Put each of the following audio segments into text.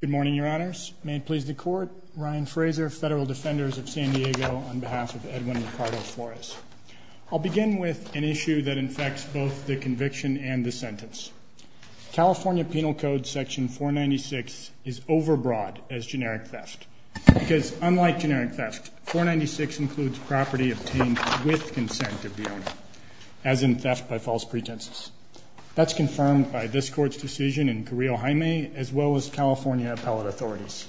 Good morning, Your Honors. May it please the Court, Ryan Fraser, Federal Defenders of San Diego, on behalf of Edwin Ricardo Flores. I'll begin with an issue that infects both the conviction and the sentence. California Penal Code section 496 is overbroad as generic theft. Because unlike generic theft, 496 includes property obtained with consent of the owner, as in theft by false pretenses. That's confirmed by this Court's decision in Carrillo-Jaime, as well as California appellate authorities.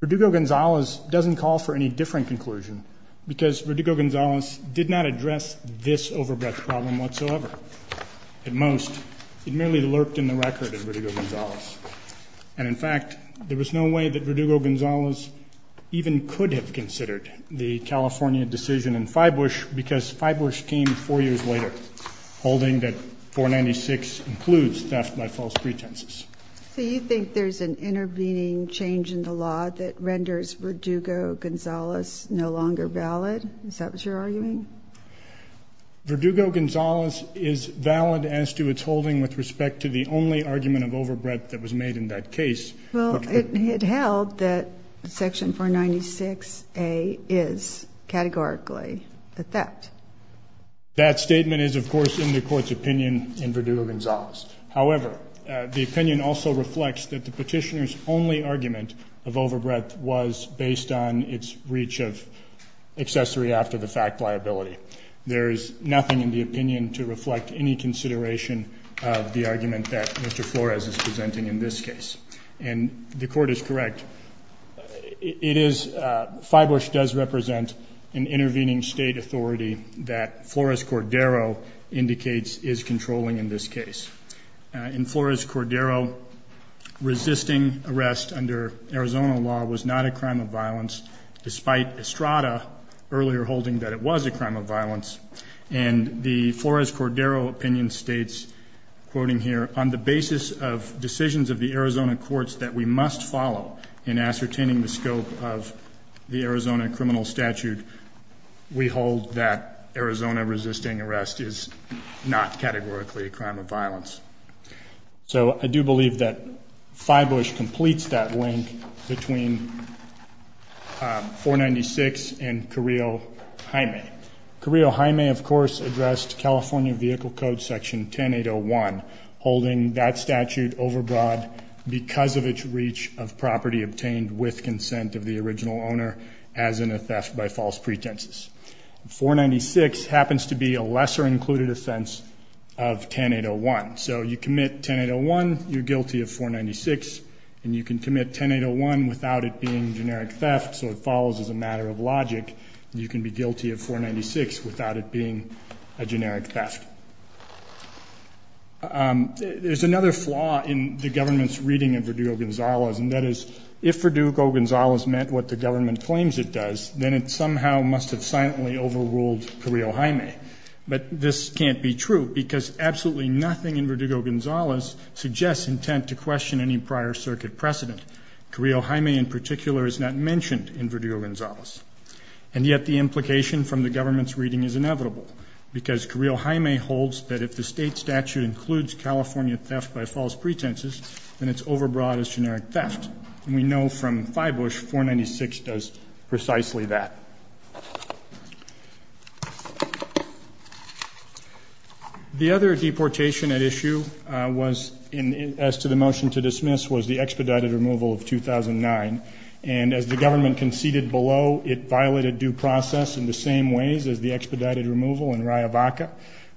Verdugo-Gonzalez doesn't call for any different conclusion, because Verdugo-Gonzalez did not address this overbreadth problem whatsoever. At most, it merely lurked in the record of Verdugo-Gonzalez. And in fact, there was no way that Verdugo-Gonzalez even could have considered the California decision in Fybush, because Fybush came four years later holding that 496 includes theft by false pretenses. So you think there's an intervening change in the law that renders Verdugo-Gonzalez no longer valid? Is that what you're arguing? Verdugo-Gonzalez is valid as to its holding with respect to the only argument of overbreadth that was made in that case. Well, it held that section 496A is categorically a theft. That statement is, of course, in the Court's opinion in Verdugo-Gonzalez. However, the opinion also reflects that the Petitioner's only argument of overbreadth was based on its reach of accessory after the fact liability. There is nothing in the opinion to reflect any consideration of the argument that Mr. Flores is presenting in this case. And the Court is correct. It is – Fybush does represent an intervening state authority that Flores-Cordero indicates is controlling in this case. In Flores-Cordero, resisting arrest under Arizona law was not a crime of violence, despite Estrada earlier holding that it was a crime of violence. And the Flores-Cordero opinion states, quoting here, on the basis of decisions of the Arizona courts that we must follow in ascertaining the scope of the Arizona criminal statute, we hold that Arizona resisting arrest is not categorically a crime of violence. So I do believe that Fybush completes that link between 496 and Carrillo-Jaime. Carrillo-Jaime, of course, addressed California Vehicle Code Section 10801, holding that statute overbroad because of its reach of property obtained with consent of the original owner, as in a theft by false pretenses. 496 happens to be a lesser included offense of 10801. So you commit 10801, you're guilty of 496. And you can commit 10801 without it being generic theft, so it follows as a matter of logic. You can be guilty of 496 without it being a generic theft. There's another flaw in the government's reading of Verdugo-Gonzalez, and that is if Verdugo-Gonzalez meant what the government claims it does, then it somehow must have silently overruled Carrillo-Jaime. But this can't be true because absolutely nothing in Verdugo-Gonzalez suggests intent to question any prior circuit precedent. Carrillo-Jaime in particular is not mentioned in Verdugo-Gonzalez. And yet the implication from the government's reading is inevitable because Carrillo-Jaime holds that if the state statute includes California theft by false pretenses, then it's overbroad as generic theft. And we know from Feibusch 496 does precisely that. The other deportation at issue was, as to the motion to dismiss, was the expedited removal of 2009. And as the government conceded below, it violated due process in the same ways as the expedited removal in Riavaca.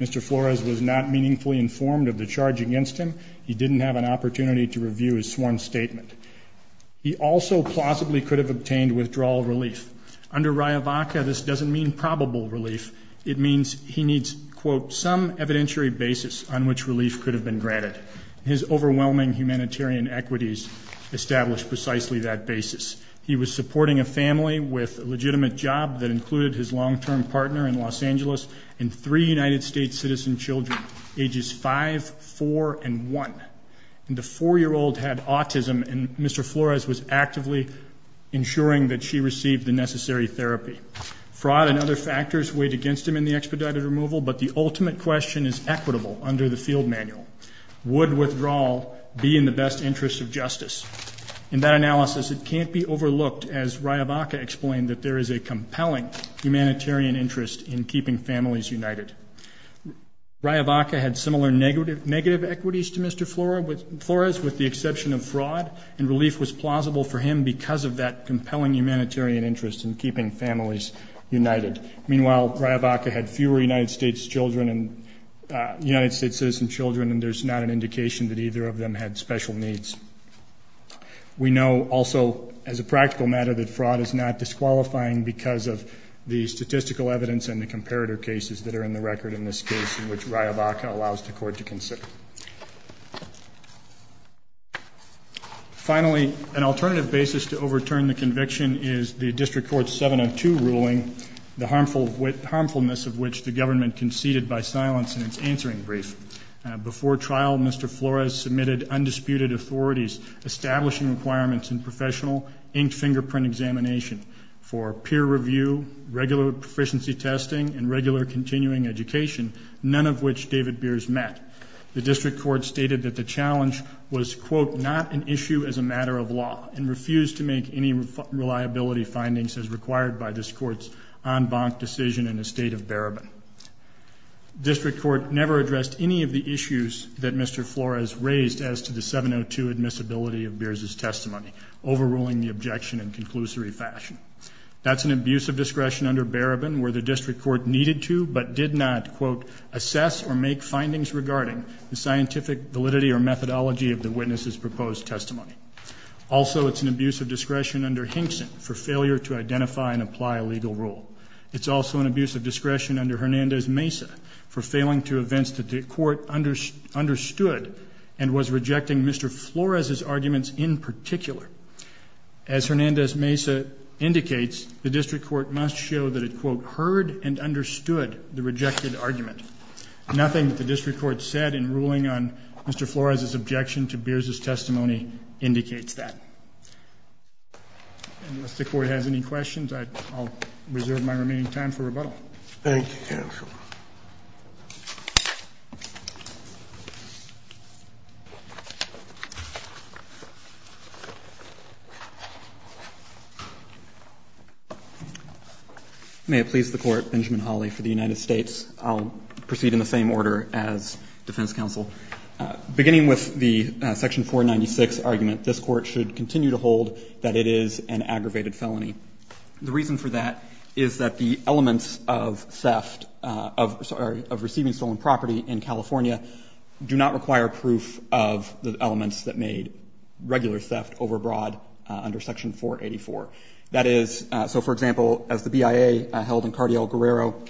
Mr. Flores was not meaningfully informed of the charge against him. He didn't have an opportunity to review his sworn statement. He also possibly could have obtained withdrawal relief. Under Riavaca, this doesn't mean probable relief. It means he needs, quote, some evidentiary basis on which relief could have been granted. His overwhelming humanitarian equities established precisely that basis. He was supporting a family with a legitimate job that included his long-term partner in Los Angeles and three United States citizen children ages 5, 4, and 1. And the 4-year-old had autism, and Mr. Flores was actively ensuring that she received the necessary therapy. Fraud and other factors weighed against him in the expedited removal, but the ultimate question is equitable under the field manual. Would withdrawal be in the best interest of justice? In that analysis, it can't be overlooked, as Riavaca explained, that there is a compelling humanitarian interest in keeping families united. Riavaca had similar negative equities to Mr. Flores, with the exception of fraud, and relief was plausible for him because of that compelling humanitarian interest in keeping families united. Meanwhile, Riavaca had fewer United States children and United States citizen children, and there's not an indication that either of them had special needs. We know also as a practical matter that fraud is not disqualifying because of the statistical evidence and the comparator cases that are in the record in this case in which Riavaca allows the court to consider. Finally, an alternative basis to overturn the conviction is the District Court's 702 ruling, the harmfulness of which the government conceded by silence in its answering brief. Before trial, Mr. Flores submitted undisputed authorities establishing requirements in professional inked fingerprint examination for peer review, regular proficiency testing, and regular continuing education, none of which David Beers met. The District Court stated that the challenge was, quote, not an issue as a matter of law and refused to make any reliability findings as required by this court's en banc decision in the state of Barabin. District Court never addressed any of the issues that Mr. Flores raised as to the 702 admissibility of Beers' testimony, overruling the objection in conclusory fashion. That's an abuse of discretion under Barabin where the District Court needed to but did not, quote, assess or make findings regarding the scientific validity or methodology of the witness's proposed testimony. Also, it's an abuse of discretion under Hinkson for failure to identify and apply a legal rule. It's also an abuse of discretion under Hernandez-Mesa for failing to advance the court understood and was rejecting Mr. Flores' arguments in particular. As Hernandez-Mesa indicates, the District Court must show that it, quote, heard and understood the rejected argument. Nothing that the District Court said in ruling on Mr. Flores' objection to Beers' testimony indicates that. Unless the Court has any questions, I'll reserve my remaining time for rebuttal. Thank you, counsel. May it please the Court. Benjamin Hawley for the United States. I'll proceed in the same order as defense counsel. Beginning with the section 496 argument, this Court should continue to hold that it is an aggravated felony. The reason for that is that the elements of theft of receiving stolen property in California do not require proof of the elements that made regular theft overbroad under section 484. That is, so, for example, as the BIA held in Cardial Guerrero,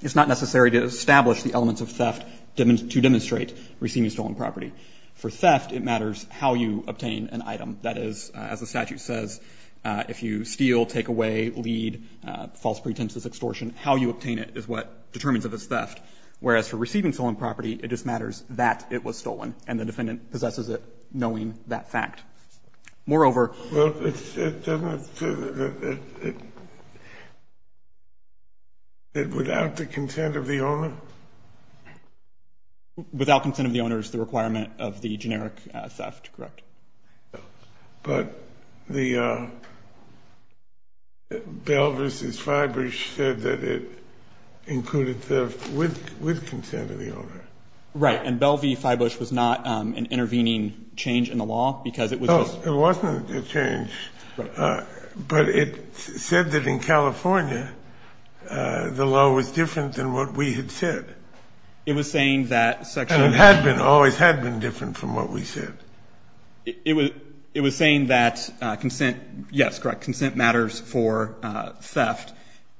it's not necessary to establish the elements of theft to demonstrate receiving stolen property. For theft, it matters how you obtain an item. That is, as the statute says, if you steal, take away, lead, false pretenses, extortion, how you obtain it is what determines if it's theft. Whereas for receiving stolen property, it just matters that it was stolen, and the defendant possesses it knowing that fact. Moreover — It doesn't say that it's without the consent of the owner? Without consent of the owner is the requirement of the generic theft, correct. But the Bell v. Fybush said that it included theft with consent of the owner. Right. And Bell v. Fybush was not an intervening change in the law, because it was just — Oh, it wasn't a change. Right. But it said that in California the law was different than what we had said. It was saying that section — It had been, always had been different from what we said. It was saying that consent, yes, correct, consent matters for theft.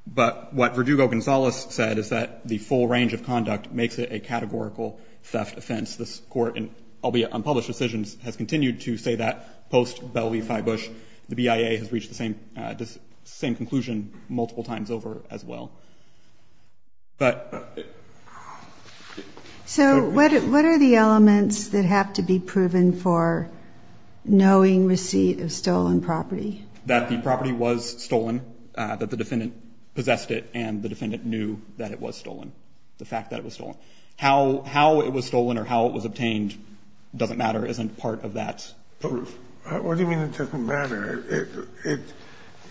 But what Verdugo-Gonzalez said is that the full range of conduct makes it a categorical theft offense. This Court, albeit on published decisions, has continued to say that post-Bell v. Fybush. The BIA has reached the same conclusion multiple times over as well. But — So what are the elements that have to be proven for knowing receipt of stolen property? That the property was stolen, that the defendant possessed it, and the defendant knew that it was stolen, the fact that it was stolen. How it was stolen or how it was obtained doesn't matter, isn't part of that proof. What do you mean it doesn't matter?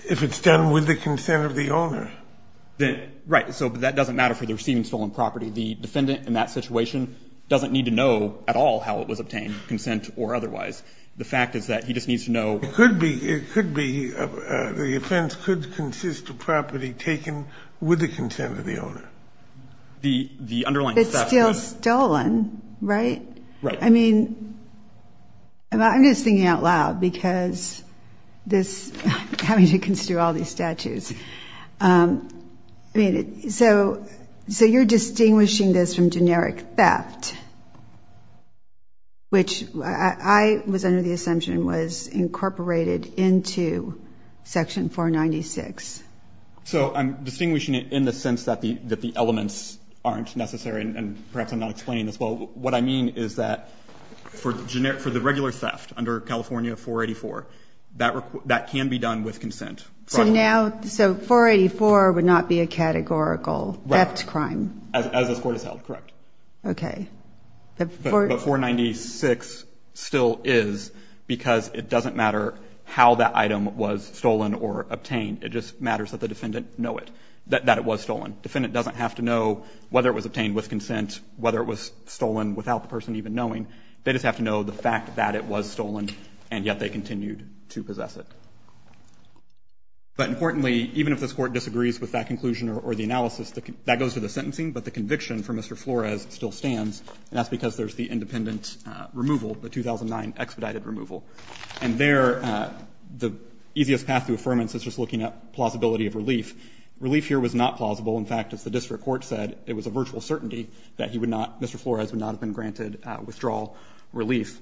If it's done with the consent of the owner. Right. So that doesn't matter for the receiving stolen property. The defendant in that situation doesn't need to know at all how it was obtained, consent or otherwise. The fact is that he just needs to know — It could be, it could be, the offense could consist of property taken with the consent of the owner. The underlying — It's still stolen, right? Right. I mean, I'm just thinking out loud because this, having to consider all these statues, I mean, so you're distinguishing this from generic theft, which I was under the assumption was incorporated into Section 496. So I'm distinguishing it in the sense that the elements aren't necessary, and perhaps I'm not explaining this well. What I mean is that for the regular theft under California 484, that can be done with consent. So now — so 484 would not be a categorical theft crime? Right. As this Court has held, correct. Okay. But 496 still is because it doesn't matter how that item was stolen or obtained. It just matters that the defendant know it, that it was stolen. Defendant doesn't have to know whether it was obtained with consent, whether it was stolen without the person even knowing. They just have to know the fact that it was stolen, and yet they continued to possess it. But importantly, even if this Court disagrees with that conclusion or the analysis, that goes to the sentencing, but the conviction for Mr. Flores still stands, and that's because there's the independent removal, the 2009 expedited removal. And there, the easiest path to affirmance is just looking at plausibility of relief. Relief here was not plausible. In fact, as the district court said, it was a virtual certainty that he would not — Mr. Flores would not have been granted withdrawal relief.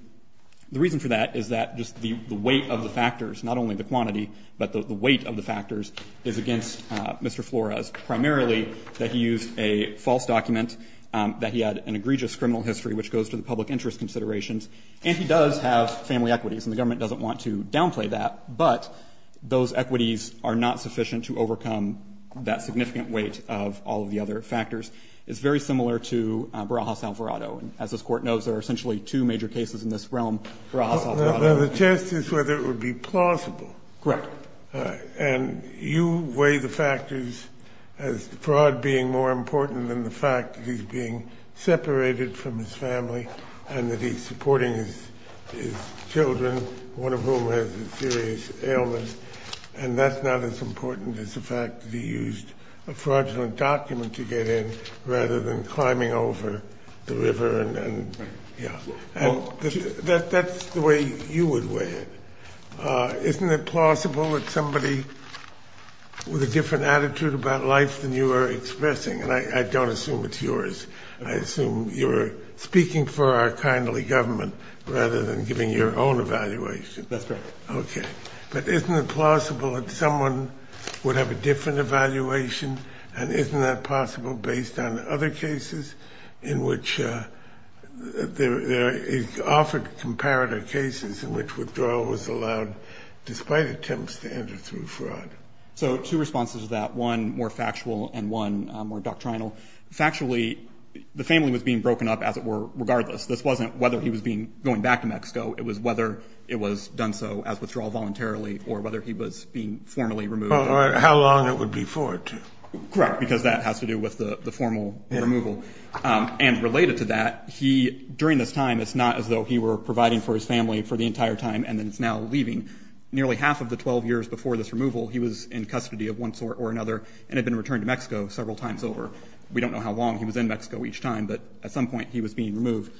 The reason for that is that just the weight of the factors, not only the quantity, but the weight of the factors is against Mr. Flores, primarily that he used a false document, that he had an egregious criminal history, which goes to the public interest considerations. And he does have family equities, and the government doesn't want to downplay that, but those equities are not sufficient to overcome that significant weight of all of the other factors. It's very similar to Barajas-Alvarado. And as this Court knows, there are essentially two major cases in this realm for Barajas-Alvarado. The test is whether it would be plausible. Correct. And you weigh the factors as fraud being more important than the fact that he's being separated from his family and that he's supporting his children, one of whom has a serious ailment, and that's not as important as the fact that he used a fraudulent document to get in rather than climbing over the river and, yeah. And that's the way you would weigh it. Isn't it plausible that somebody with a different attitude about life than you are expressing? And I don't assume it's yours. I assume you're speaking for our kindly government rather than giving your own evaluation. That's right. Okay. But isn't it plausible that someone would have a different evaluation? And isn't that possible based on other cases in which there is often comparative cases in which withdrawal was allowed despite attempts to enter through fraud? So two responses to that, one more factual and one more doctrinal. Factually, the family was being broken up, as it were, regardless. This wasn't whether he was being going back to Mexico. It was whether it was done so as withdrawal voluntarily or whether he was being formally removed. Or how long it would be for it. Correct, because that has to do with the formal removal. And related to that, he, during this time, it's not as though he were providing for his family for the entire time and then is now leaving. Nearly half of the 12 years before this removal, he was in custody of one sort or another and had been returned to Mexico several times over. We don't know how long he was in Mexico each time, but at some point he was being removed.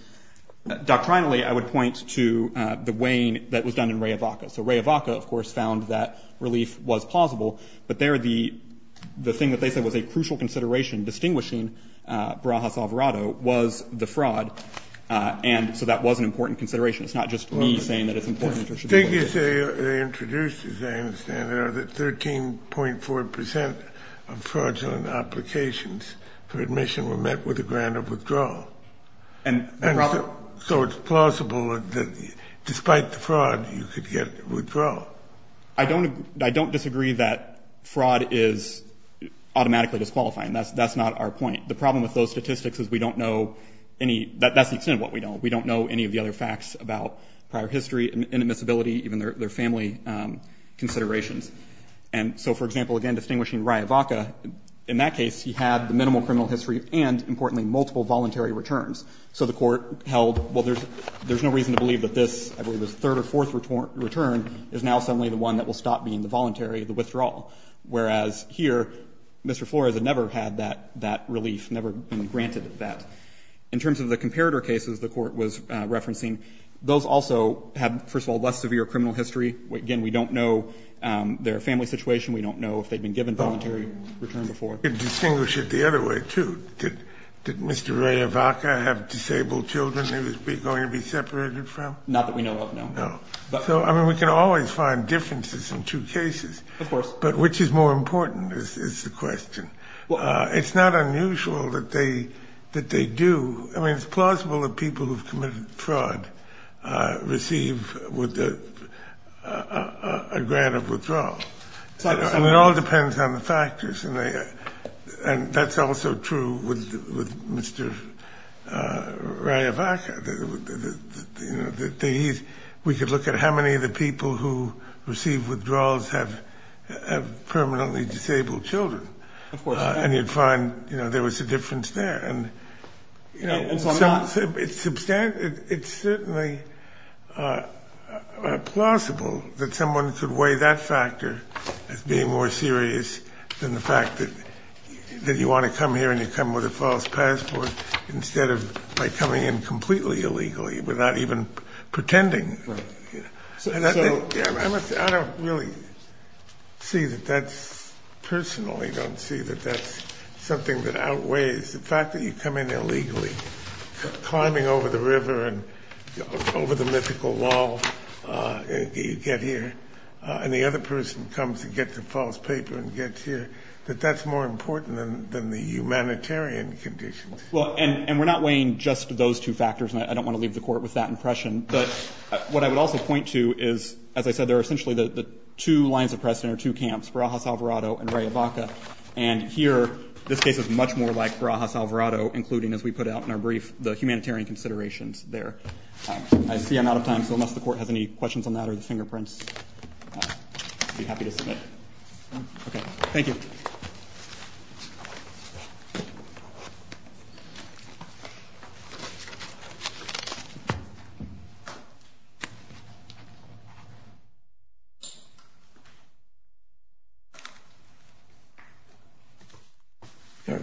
Doctrinally, I would point to the weighing that was done in Rey Evaca. So Rey Evaca, of course, found that relief was plausible, but there the thing that they said was a crucial consideration distinguishing Barajas-Alvarado was the fraud. And so that was an important consideration. It's not just me saying that it's important that it should be. The thing is they introduced, as I understand it, that 13.4 percent of fraudulent applications for admission were met with a grant of withdrawal. And so it's plausible that despite the fraud, you could get withdrawal. I don't disagree that fraud is automatically disqualifying. That's not our point. The problem with those statistics is we don't know any, that's the extent of what we know. We don't know any of the other facts about prior history, inadmissibility, even their family considerations. And so, for example, again, distinguishing Rey Evaca, in that case, he had the minimal criminal history and, importantly, multiple voluntary returns. So the Court held, well, there's no reason to believe that this, I believe it was the third or fourth return, is now suddenly the one that will stop being the voluntary, the withdrawal. Whereas here, Mr. Flores had never had that relief, never been granted that. In terms of the comparator cases the Court was referencing, those also had, first of all, less severe criminal history. Again, we don't know their family situation. We don't know if they had been given voluntary return before. We can distinguish it the other way, too. Did Mr. Rey Evaca have disabled children he was going to be separated from? Not that we know of, no. No. So, I mean, we can always find differences in two cases. Of course. But which is more important is the question. It's not unusual that they do. It all depends on the factors. And that's also true with Mr. Rey Evaca. We could look at how many of the people who received withdrawals have permanently disabled children. And you'd find there was a difference there. It's certainly plausible that someone could weigh that factor as being more serious than the fact that you want to come here and you come with a false passport instead of by coming in completely illegally without even pretending. I don't really see that that's personal. I don't see that that's something that outweighs. It's the fact that you come in illegally, climbing over the river and over the mythical wall and you get here, and the other person comes and gets a false paper and gets here, that that's more important than the humanitarian conditions. Well, and we're not weighing just those two factors, and I don't want to leave the Court with that impression. But what I would also point to is, as I said, there are essentially the two lines of precedent or two camps, Barajas Alvarado and Rey Evaca. And here, this case is much more like Barajas Alvarado, including, as we put out in our brief, the humanitarian considerations there. I see I'm out of time, so unless the Court has any questions on that or the fingerprints, I'd be happy to submit. Okay. Thank you.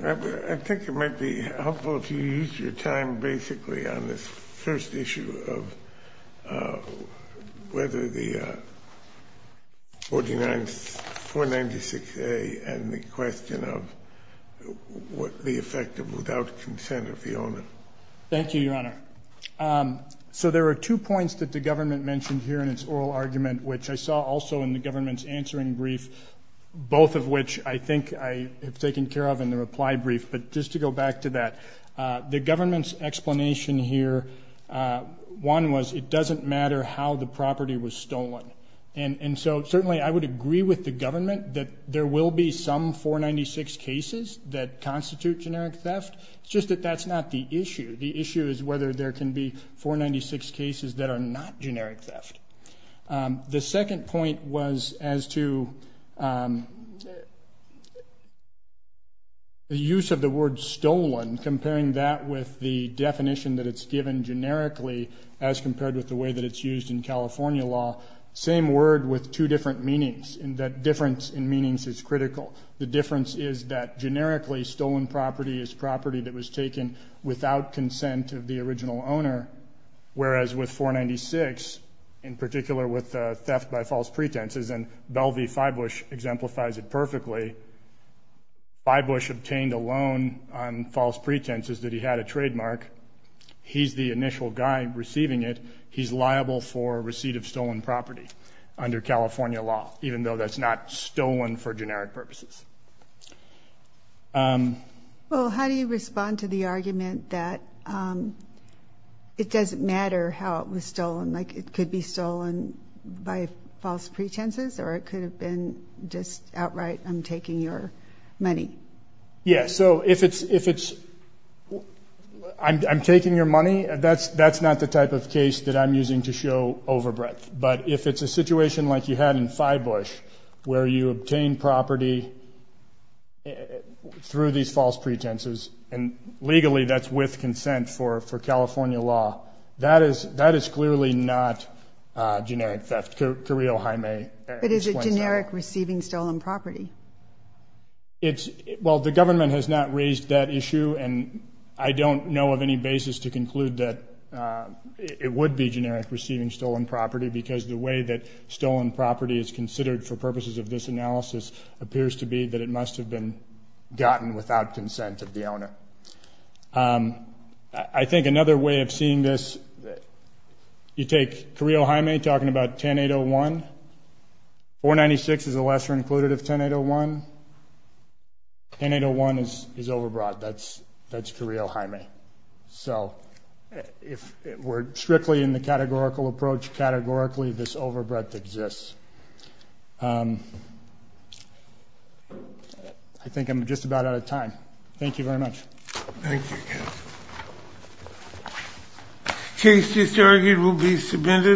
I think it might be helpful to use your time basically on this first issue of whether the 496A and the question of what the effect of without consent of the owner. Thank you, Your Honor. So there are two points that the government mentioned here in its oral argument, which I saw also in the government's answering brief, both of which I think I have taken care of in the reply brief. But just to go back to that, the government's explanation here, one was it doesn't matter how the property was stolen. And so certainly I would agree with the government that there will be some 496 cases that constitute generic theft. It's just that that's not the issue. The issue is whether there can be 496 cases that are not generic theft. The second point was as to the use of the word stolen, comparing that with the definition that it's given generically as compared with the way that it's used in California law, same word with two different meanings, and that difference in meanings is critical. The difference is that generically stolen property is property that was taken without consent of the original owner, whereas with 496, in particular with theft by false pretenses, and Bell v. Fybush exemplifies it perfectly, Fybush obtained a loan on false pretenses that he had a trademark. He's the initial guy receiving it. He's liable for receipt of stolen property under California law, even though that's not stolen for generic purposes. Well, how do you respond to the argument that it doesn't matter how it was stolen, like it could be stolen by false pretenses or it could have been just outright, I'm taking your money? Yeah, so if it's I'm taking your money, that's not the type of case that I'm using to show over breadth. But if it's a situation like you had in Fybush where you obtain property through these false pretenses, and legally that's with consent for California law, that is clearly not generic theft. Carrillo-Jaime explains that. But is it generic receiving stolen property? Well, the government has not raised that issue, and I don't know of any basis to because the way that stolen property is considered for purposes of this analysis appears to be that it must have been gotten without consent of the owner. I think another way of seeing this, you take Carrillo-Jaime talking about 10-801. 496 is a lesser included of 10-801. 10-801 is over broad. That's Carrillo-Jaime. So if we're strictly in the categorical approach, categorically this over breadth exists. I think I'm just about out of time. Thank you very much. Thank you. Case disargued will be submitted.